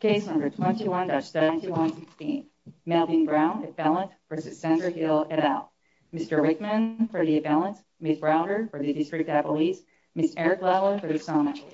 Case number 21-7116. Melvin Brown, a felon, v. Sandra Hill, et al. Mr. Rickman for the felon, Ms. Browder for the District of Appalachia, Ms. Eric Lalloy for the Sonoma Police.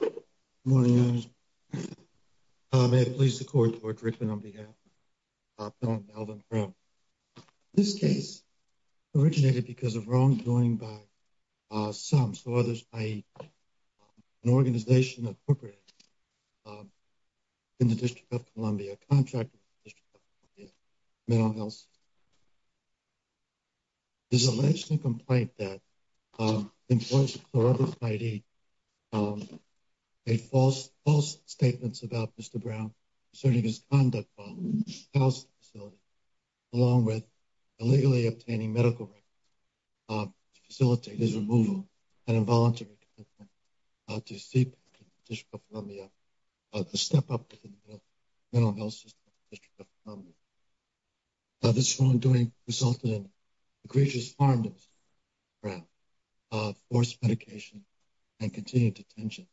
Good morning, Your Honor. May it please the Court, George Rickman on behalf of Melvin Brown. This case originated because of wrongdoing by some, so others, i.e., an organization of corporates in the District of Columbia, a contractor in the District of Columbia, Menlo Health. There's a legitimate complaint that employers or other parties made false statements about Mr. Brown concerning his conduct while in the hospital facility, along with illegally obtaining medical records to facilitate his removal and involuntary commitment to seek the District of Columbia to step up to the Menlo Health System in the District of Columbia. This wrongdoing resulted in egregious harm to Mr. Brown, forced medication, and continued detention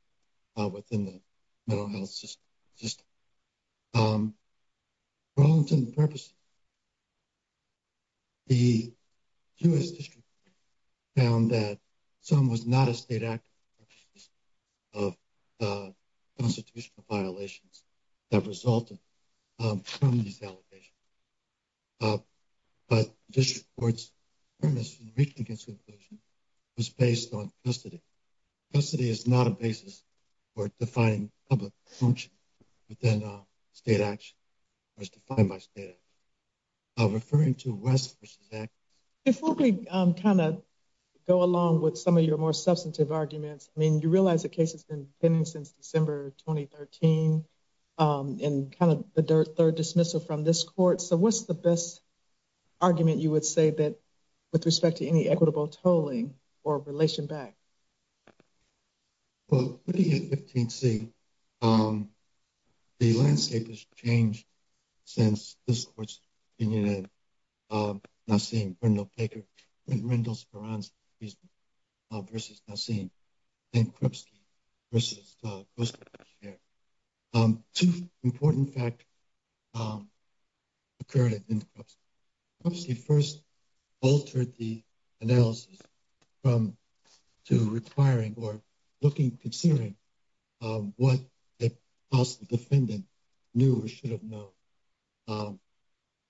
within the Menlo Health System. For all intents and purposes, the U.S. District Court found that Mr. Brown was not a state actor for the purposes of constitutional violations that resulted from these allegations. But the District Court's premise in reaching this conclusion was based on custody. Custody is not a basis for defining public function within state action, or is defined by state action. Referring to West v. Act. Before we kind of go along with some of your more substantive arguments, I mean, you realize the case has been pending since December 2013, and kind of the third dismissal from this court. So what's the best argument you would say that with respect to any equitable tolling or relation back? Well, looking at 15C, the landscape has changed since this court's opinion in Nassim Rendell-Speranz v. Nassim and Krupski v. Kostovsky. Two important factors occurred in Krupski. Krupski first altered the analysis to requiring or considering what a possible defendant knew or should have known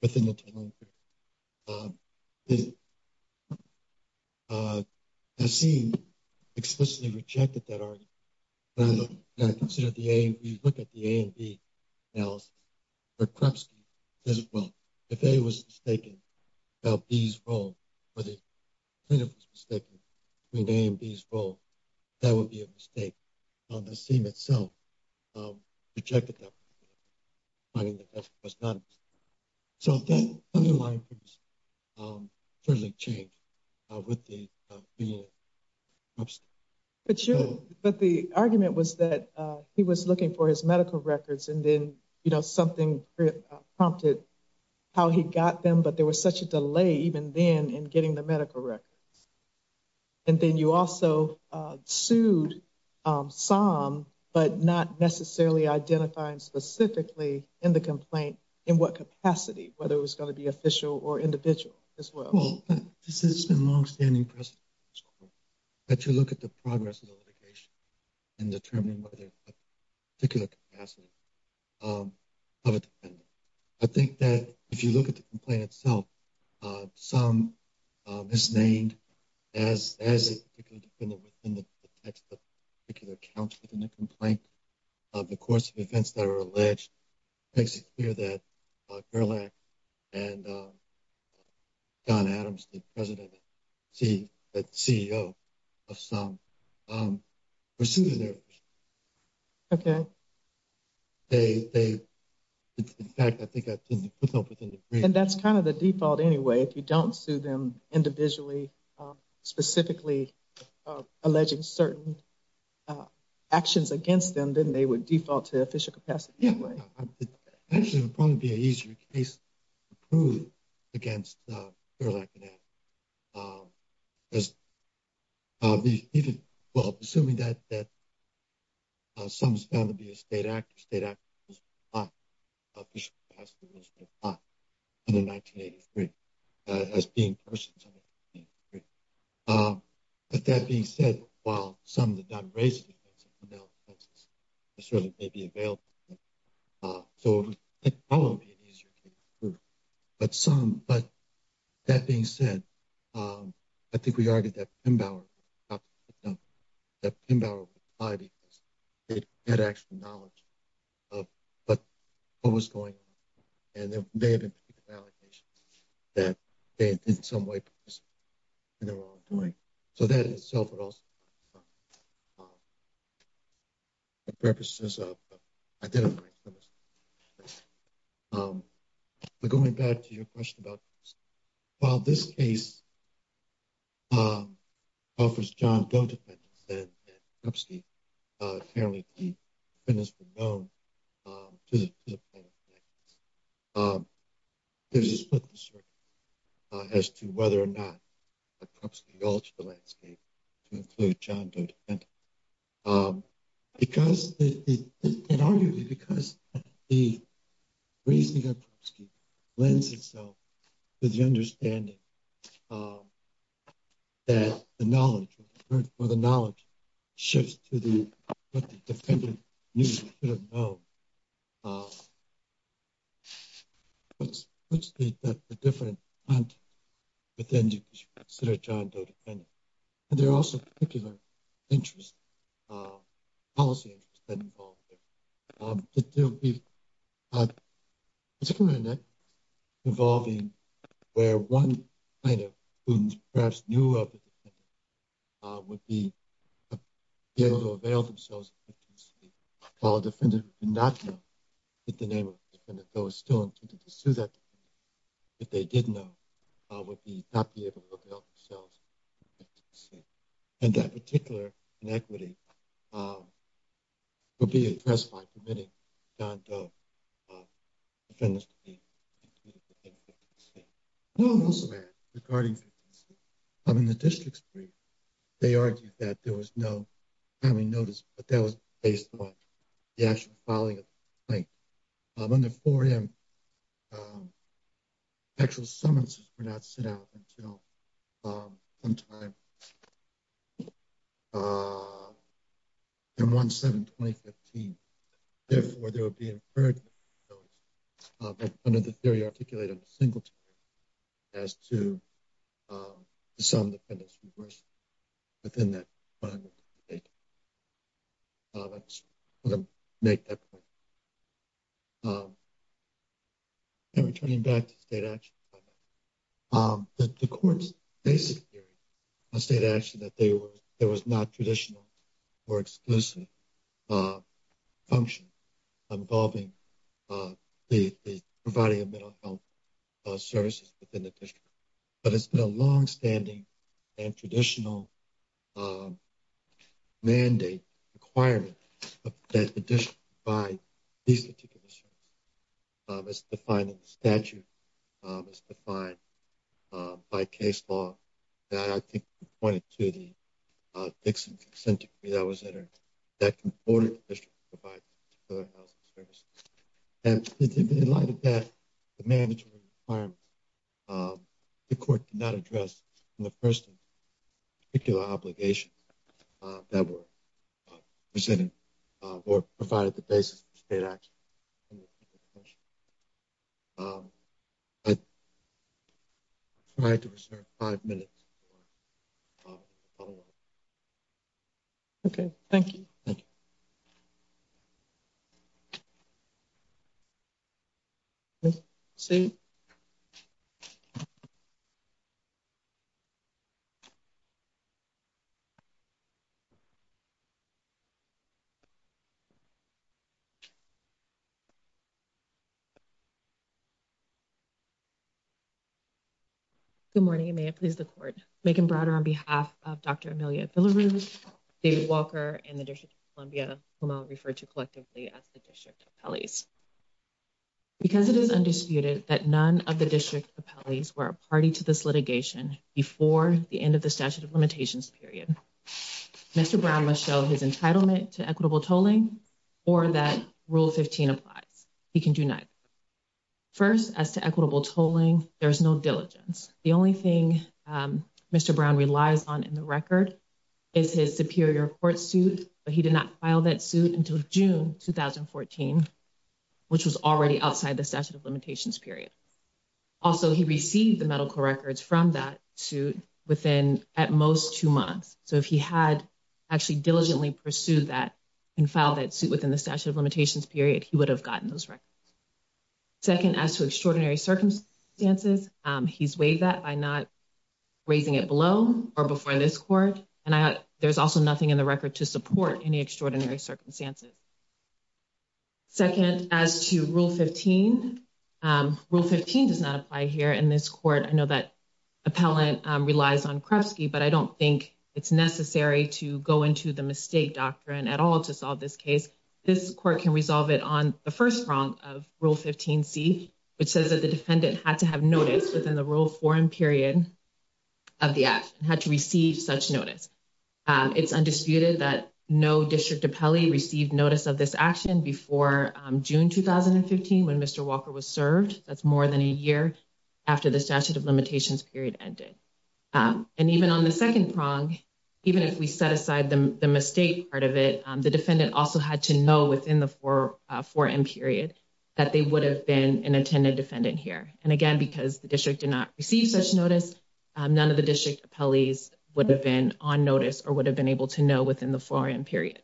within the tolling period. Nassim explicitly rejected that argument. When you look at the A and B analysis, Krupski says, well, if A was mistaken about B's role, or the plaintiff was mistaken between A and B's role, that would be a mistake. Nassim itself rejected that. So that underlying premise certainly changed with the opinion of Krupski. But the argument was that he was looking for his medical records, and then something prompted how he got them, but there was such a delay even then in getting the medical records. And then you also sued Somm, but not necessarily identifying specifically in the complaint in what capacity, whether it was going to be official or individual as well. Well, this has been a longstanding precedent, but you look at the progress of the litigation in determining whether a particular capacity of a defendant. I think that if you look at the complaint itself, Somm, misnamed as a particular defendant within the text of particular accounts within the complaint, of the course of events that are alleged, makes it clear that Gerlach and Don Adams, the president, the CEO of Somm, pursued their position. Okay. In fact, I think I put that up within the brief. And that's kind of the default anyway. If you don't sue them individually, specifically alleging certain actions against them, then they would default to official capacity anyway. Actually, it would probably be an easier case to prove against Gerlach and Adams. Assuming that Somm is found to be a state actor, state actors would apply official capacity, would apply under 1983 as being persons under 1983. But that being said, while some of the non-raised offenses may be available, it would probably be an easier case to prove. But Somm, but that being said, I think we argued that Pembower would apply because they had actual knowledge of what was going on. And there may have been allegations that they in some way participated in the wrongdoing. So that in itself would also help Somm. For purposes of identifying criminals. But going back to your question about... While this case offers John Doe defendants and Krupski, apparently the defendants were known to the plaintiffs. There's a split in the circuit as to whether or not Krupski altered the landscape to include John Doe defendants. Arguably because the reasoning of Krupski lends itself to the understanding that the knowledge shifts to what the defendant knew or should have known. Krupski had a different content within what you would consider a John Doe defendant. And there are also particular interests, policy interests, that are involved there. There are particular inequities involving where one plaintiff who perhaps knew of the defendant would be able to avail themselves of the victim's safety. While a defendant who did not know the name of the defendant, though is still intended to sue that defendant, if they did know, would not be able to avail themselves of the victim's safety. And that particular inequity would be addressed by permitting John Doe defendants to be included in 15C. I'll also add, regarding 15C, in the district's brief, they argued that there was no timing notice, but that was based on the actual filing of the complaint. Under 4M, actual summonses were not sent out until sometime in 1-7-2015. Therefore, there would be an affirmative notice, but under the theory articulated in the Singleton case, as to the sum of the defendant's remorse within that final date. I just wanted to make that point. Returning back to state action, the court's basic theory on state action that there was not traditional or exclusive function involving the providing of mental health services within the district. But it's been a long-standing and traditional mandate, requirement, that the district provide these particular services. It's defined in the statute, it's defined by case law, that I think pointed to the Dixon Consent Decree that was entered, that comported the district to provide particular health services. In light of that, the mandatory requirement, the court did not address the first particular obligation that were presented or provided the basis for state action. I'll try to reserve five minutes for follow-up. Okay, thank you. Good morning, may it please the court. Megan Browder on behalf of Dr. Amelia Villarooz, David Walker, and the District of Columbia, whom I'll refer to collectively as the District Appellees. Because it is undisputed that none of the District Appellees were a party to this litigation before the end of the statute of limitations period, Mr. Brown must show his entitlement to equitable tolling or that Rule 15 applies. He can do neither. First, as to equitable tolling, there's no diligence. The only thing Mr. Brown relies on in the record is his superior court suit, but he did not file that suit until June 2014, which was already outside the statute of limitations period. Second, as to extraordinary circumstances, he's waived that by not raising it below or before this court, and there's also nothing in the record to support any extraordinary circumstances. Second, as to Rule 15, Rule 15 does not apply here in this court. I know that appellant relies on Krupski, but I don't think it's necessary to go into the mistake doctrine at all to solve this case. This court can resolve it on the first prong of Rule 15C, which says that the defendant had to have notice within the Rule 4M period of the act and had to receive such notice. It's undisputed that no District Appellee received notice of this action before June 2015, when Mr. Walker was served. That's more than a year after the statute of limitations period ended. And even on the second prong, even if we set aside the mistake part of it, the defendant also had to know within the 4M period that they would have been an attended defendant here. And again, because the District did not receive such notice, none of the District Appellees would have been on notice or would have been able to know within the 4M period.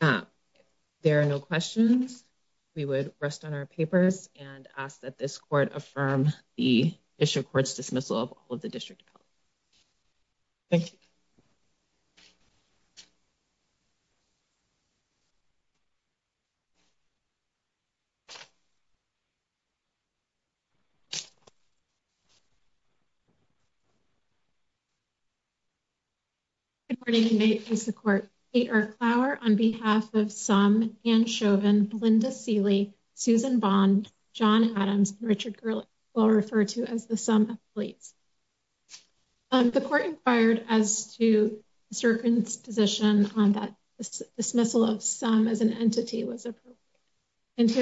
If there are no questions, we would rest on our papers and ask that this court affirm the District Court's dismissal of all of the District Appellees. Thank you. And here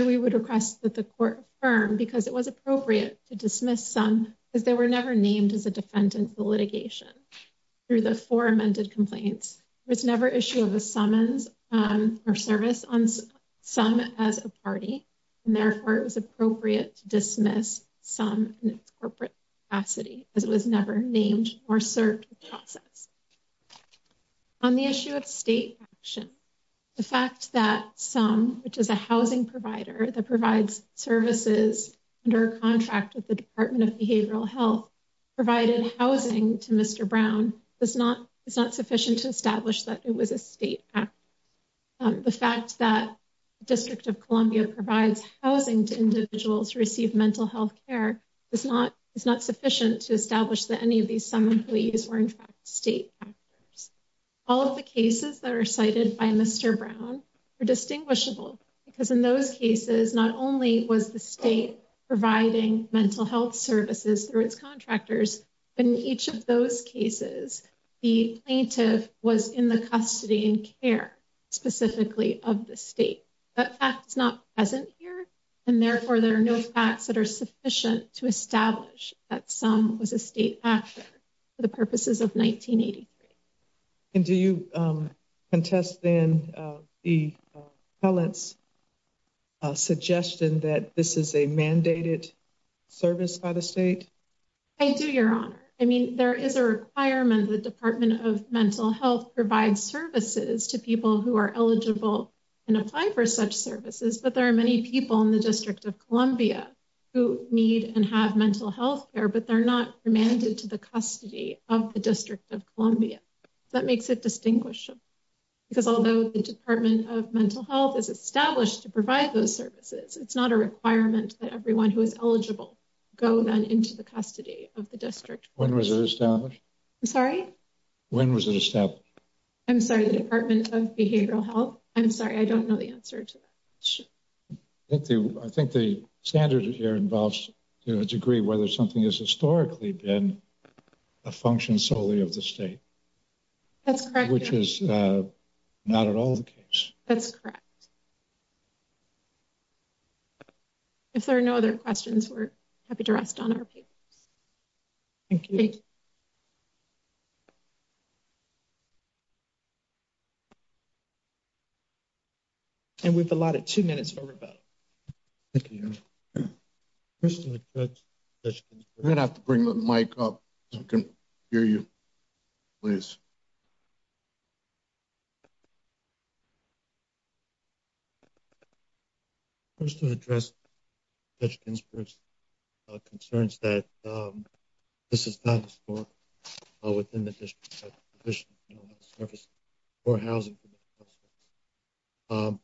we would request that the court affirm, because it was appropriate to dismiss some, because they were never named as a defendant in the litigation. Through the four amended complaints, there was never issue of a summons or service on some as a party. And therefore, it was appropriate to dismiss some in its corporate capacity, as it was never named or served in the process. On the issue of state action, the fact that some, which is a housing provider that provides services under a contract with the Department of Behavioral Health, provided housing to Mr. Brown is not sufficient to establish that it was a state act. The fact that District of Columbia provides housing to individuals who receive mental health care is not sufficient to establish that any of these some employees were in fact state actors. All of the cases that are cited by Mr. Brown are distinguishable, because in those cases, not only was the state providing mental health services through its contractors, but in each of those cases, the plaintiff was in the custody and care specifically of the state. That fact is not present here, and therefore there are no facts that are sufficient to establish that some was a state actor for the purposes of 1983. And do you contest then the appellant's suggestion that this is a mandated service by the state? I do, Your Honor. I mean, there is a requirement the Department of Mental Health provides services to people who are eligible and apply for such services. But there are many people in the District of Columbia who need and have mental health care, but they're not remanded to the custody of the District of Columbia. That makes it distinguishable, because although the Department of Mental Health is established to provide those services, it's not a requirement that everyone who is eligible go then into the custody of the District. When was it established? I'm sorry? When was it established? I'm sorry, the Department of Behavioral Health? I'm sorry, I don't know the answer to that. I think the standard here involves to a degree whether something is historically been a function solely of the state. That's correct. Which is not at all the case. That's correct. If there are no other questions, we're happy to rest on our papers. Thank you. Thank you. And we've allotted two minutes for rebuttal. Thank you, Your Honor. I'm going to have to bring the mic up so I can hear you. Please. First, to address Judge Ginsburg's concerns that this is not historical within the District. This is more analogous to the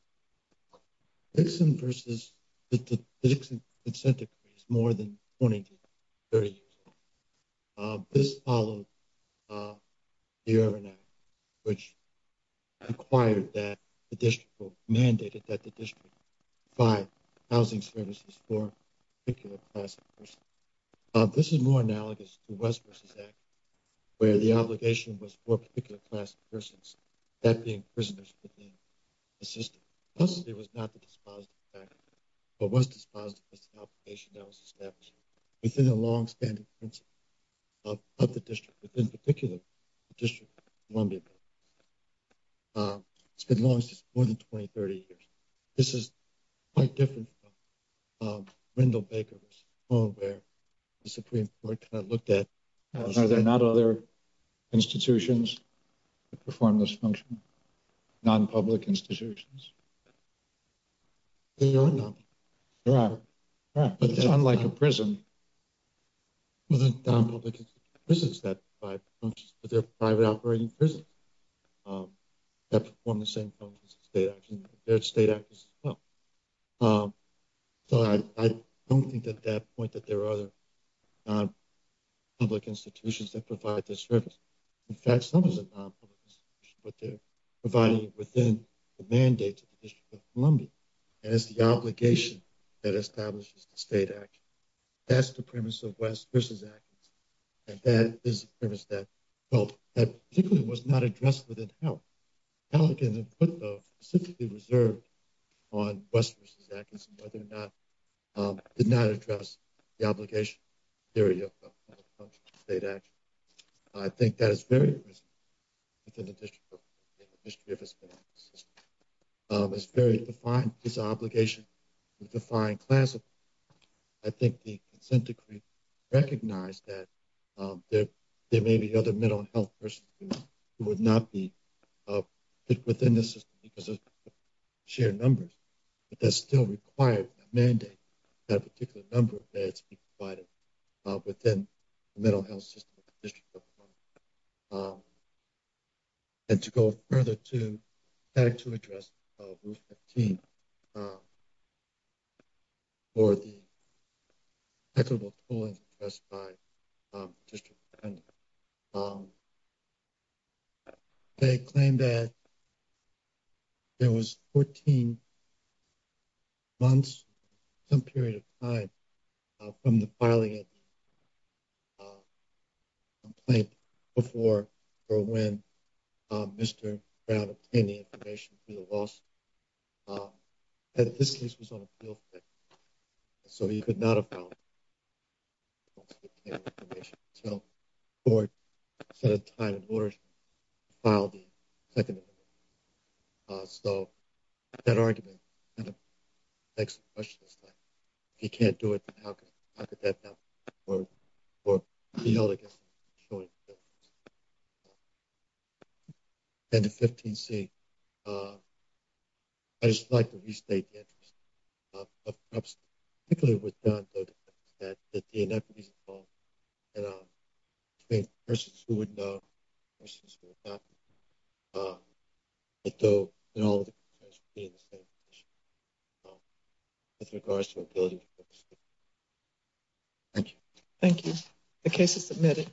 West vs. Act. Where the obligation was for a particular class of persons, that being prisoners within the system. Custody was not the dispositive factor. What was dispositive was the obligation that was established within the long-standing principle of the District. Within particular, the District of Columbia. It's been more than 20, 30 years. This is quite different from Randall Baker's home where the Supreme Court kind of looked at. Are there not other institutions that perform this function? Non-public institutions? There are not. There are. But it's unlike a prison. Well, there are non-public prisons that provide functions, but there are private operating prisons that perform the same functions as state actors. They're state actors as well. So I don't think at that point that there are other non-public institutions that provide this service. In fact, some of the non-public institutions, but they're providing it within the mandate of the District of Columbia. And it's the obligation that establishes the state action. That's the premise of West v. Atkinson. And that is the premise that, well, that particularly was not addressed within HALC. HALC, in the footnote, specifically reserved on West v. Atkinson, whether or not, did not address the obligation theory of state action. I think that is very present within the District of Columbia and the history of its mental health system. It's a very defined piece of obligation. It's a defined class of obligation. I think the consent decree recognized that there may be other mental health persons who would not be put within the system because of shared numbers. But that's still required by the mandate that a particular number of beds be provided within the mental health system of the District of Columbia. And to go further, too, I'd like to address Roof 15 for the equitable tolling addressed by the District of Columbia. They claim that there was 14 months, some period of time, from the filing of the complaint before or when Mr. Brown obtained the information for the lawsuit. And his case was on appeal. So he could not have filed the case until the court set a time in order to file the second amendment. So that argument kind of begs the question. If he can't do it, then how could that help or be held against him? And to 15C, I'd just like to restate the interest of perhaps particularly with John Doe that the inequities involved between persons who would know and persons who would not know. And all of the concerns would be in the same position with regards to ability to focus. Thank you. Thank you. The case is submitted.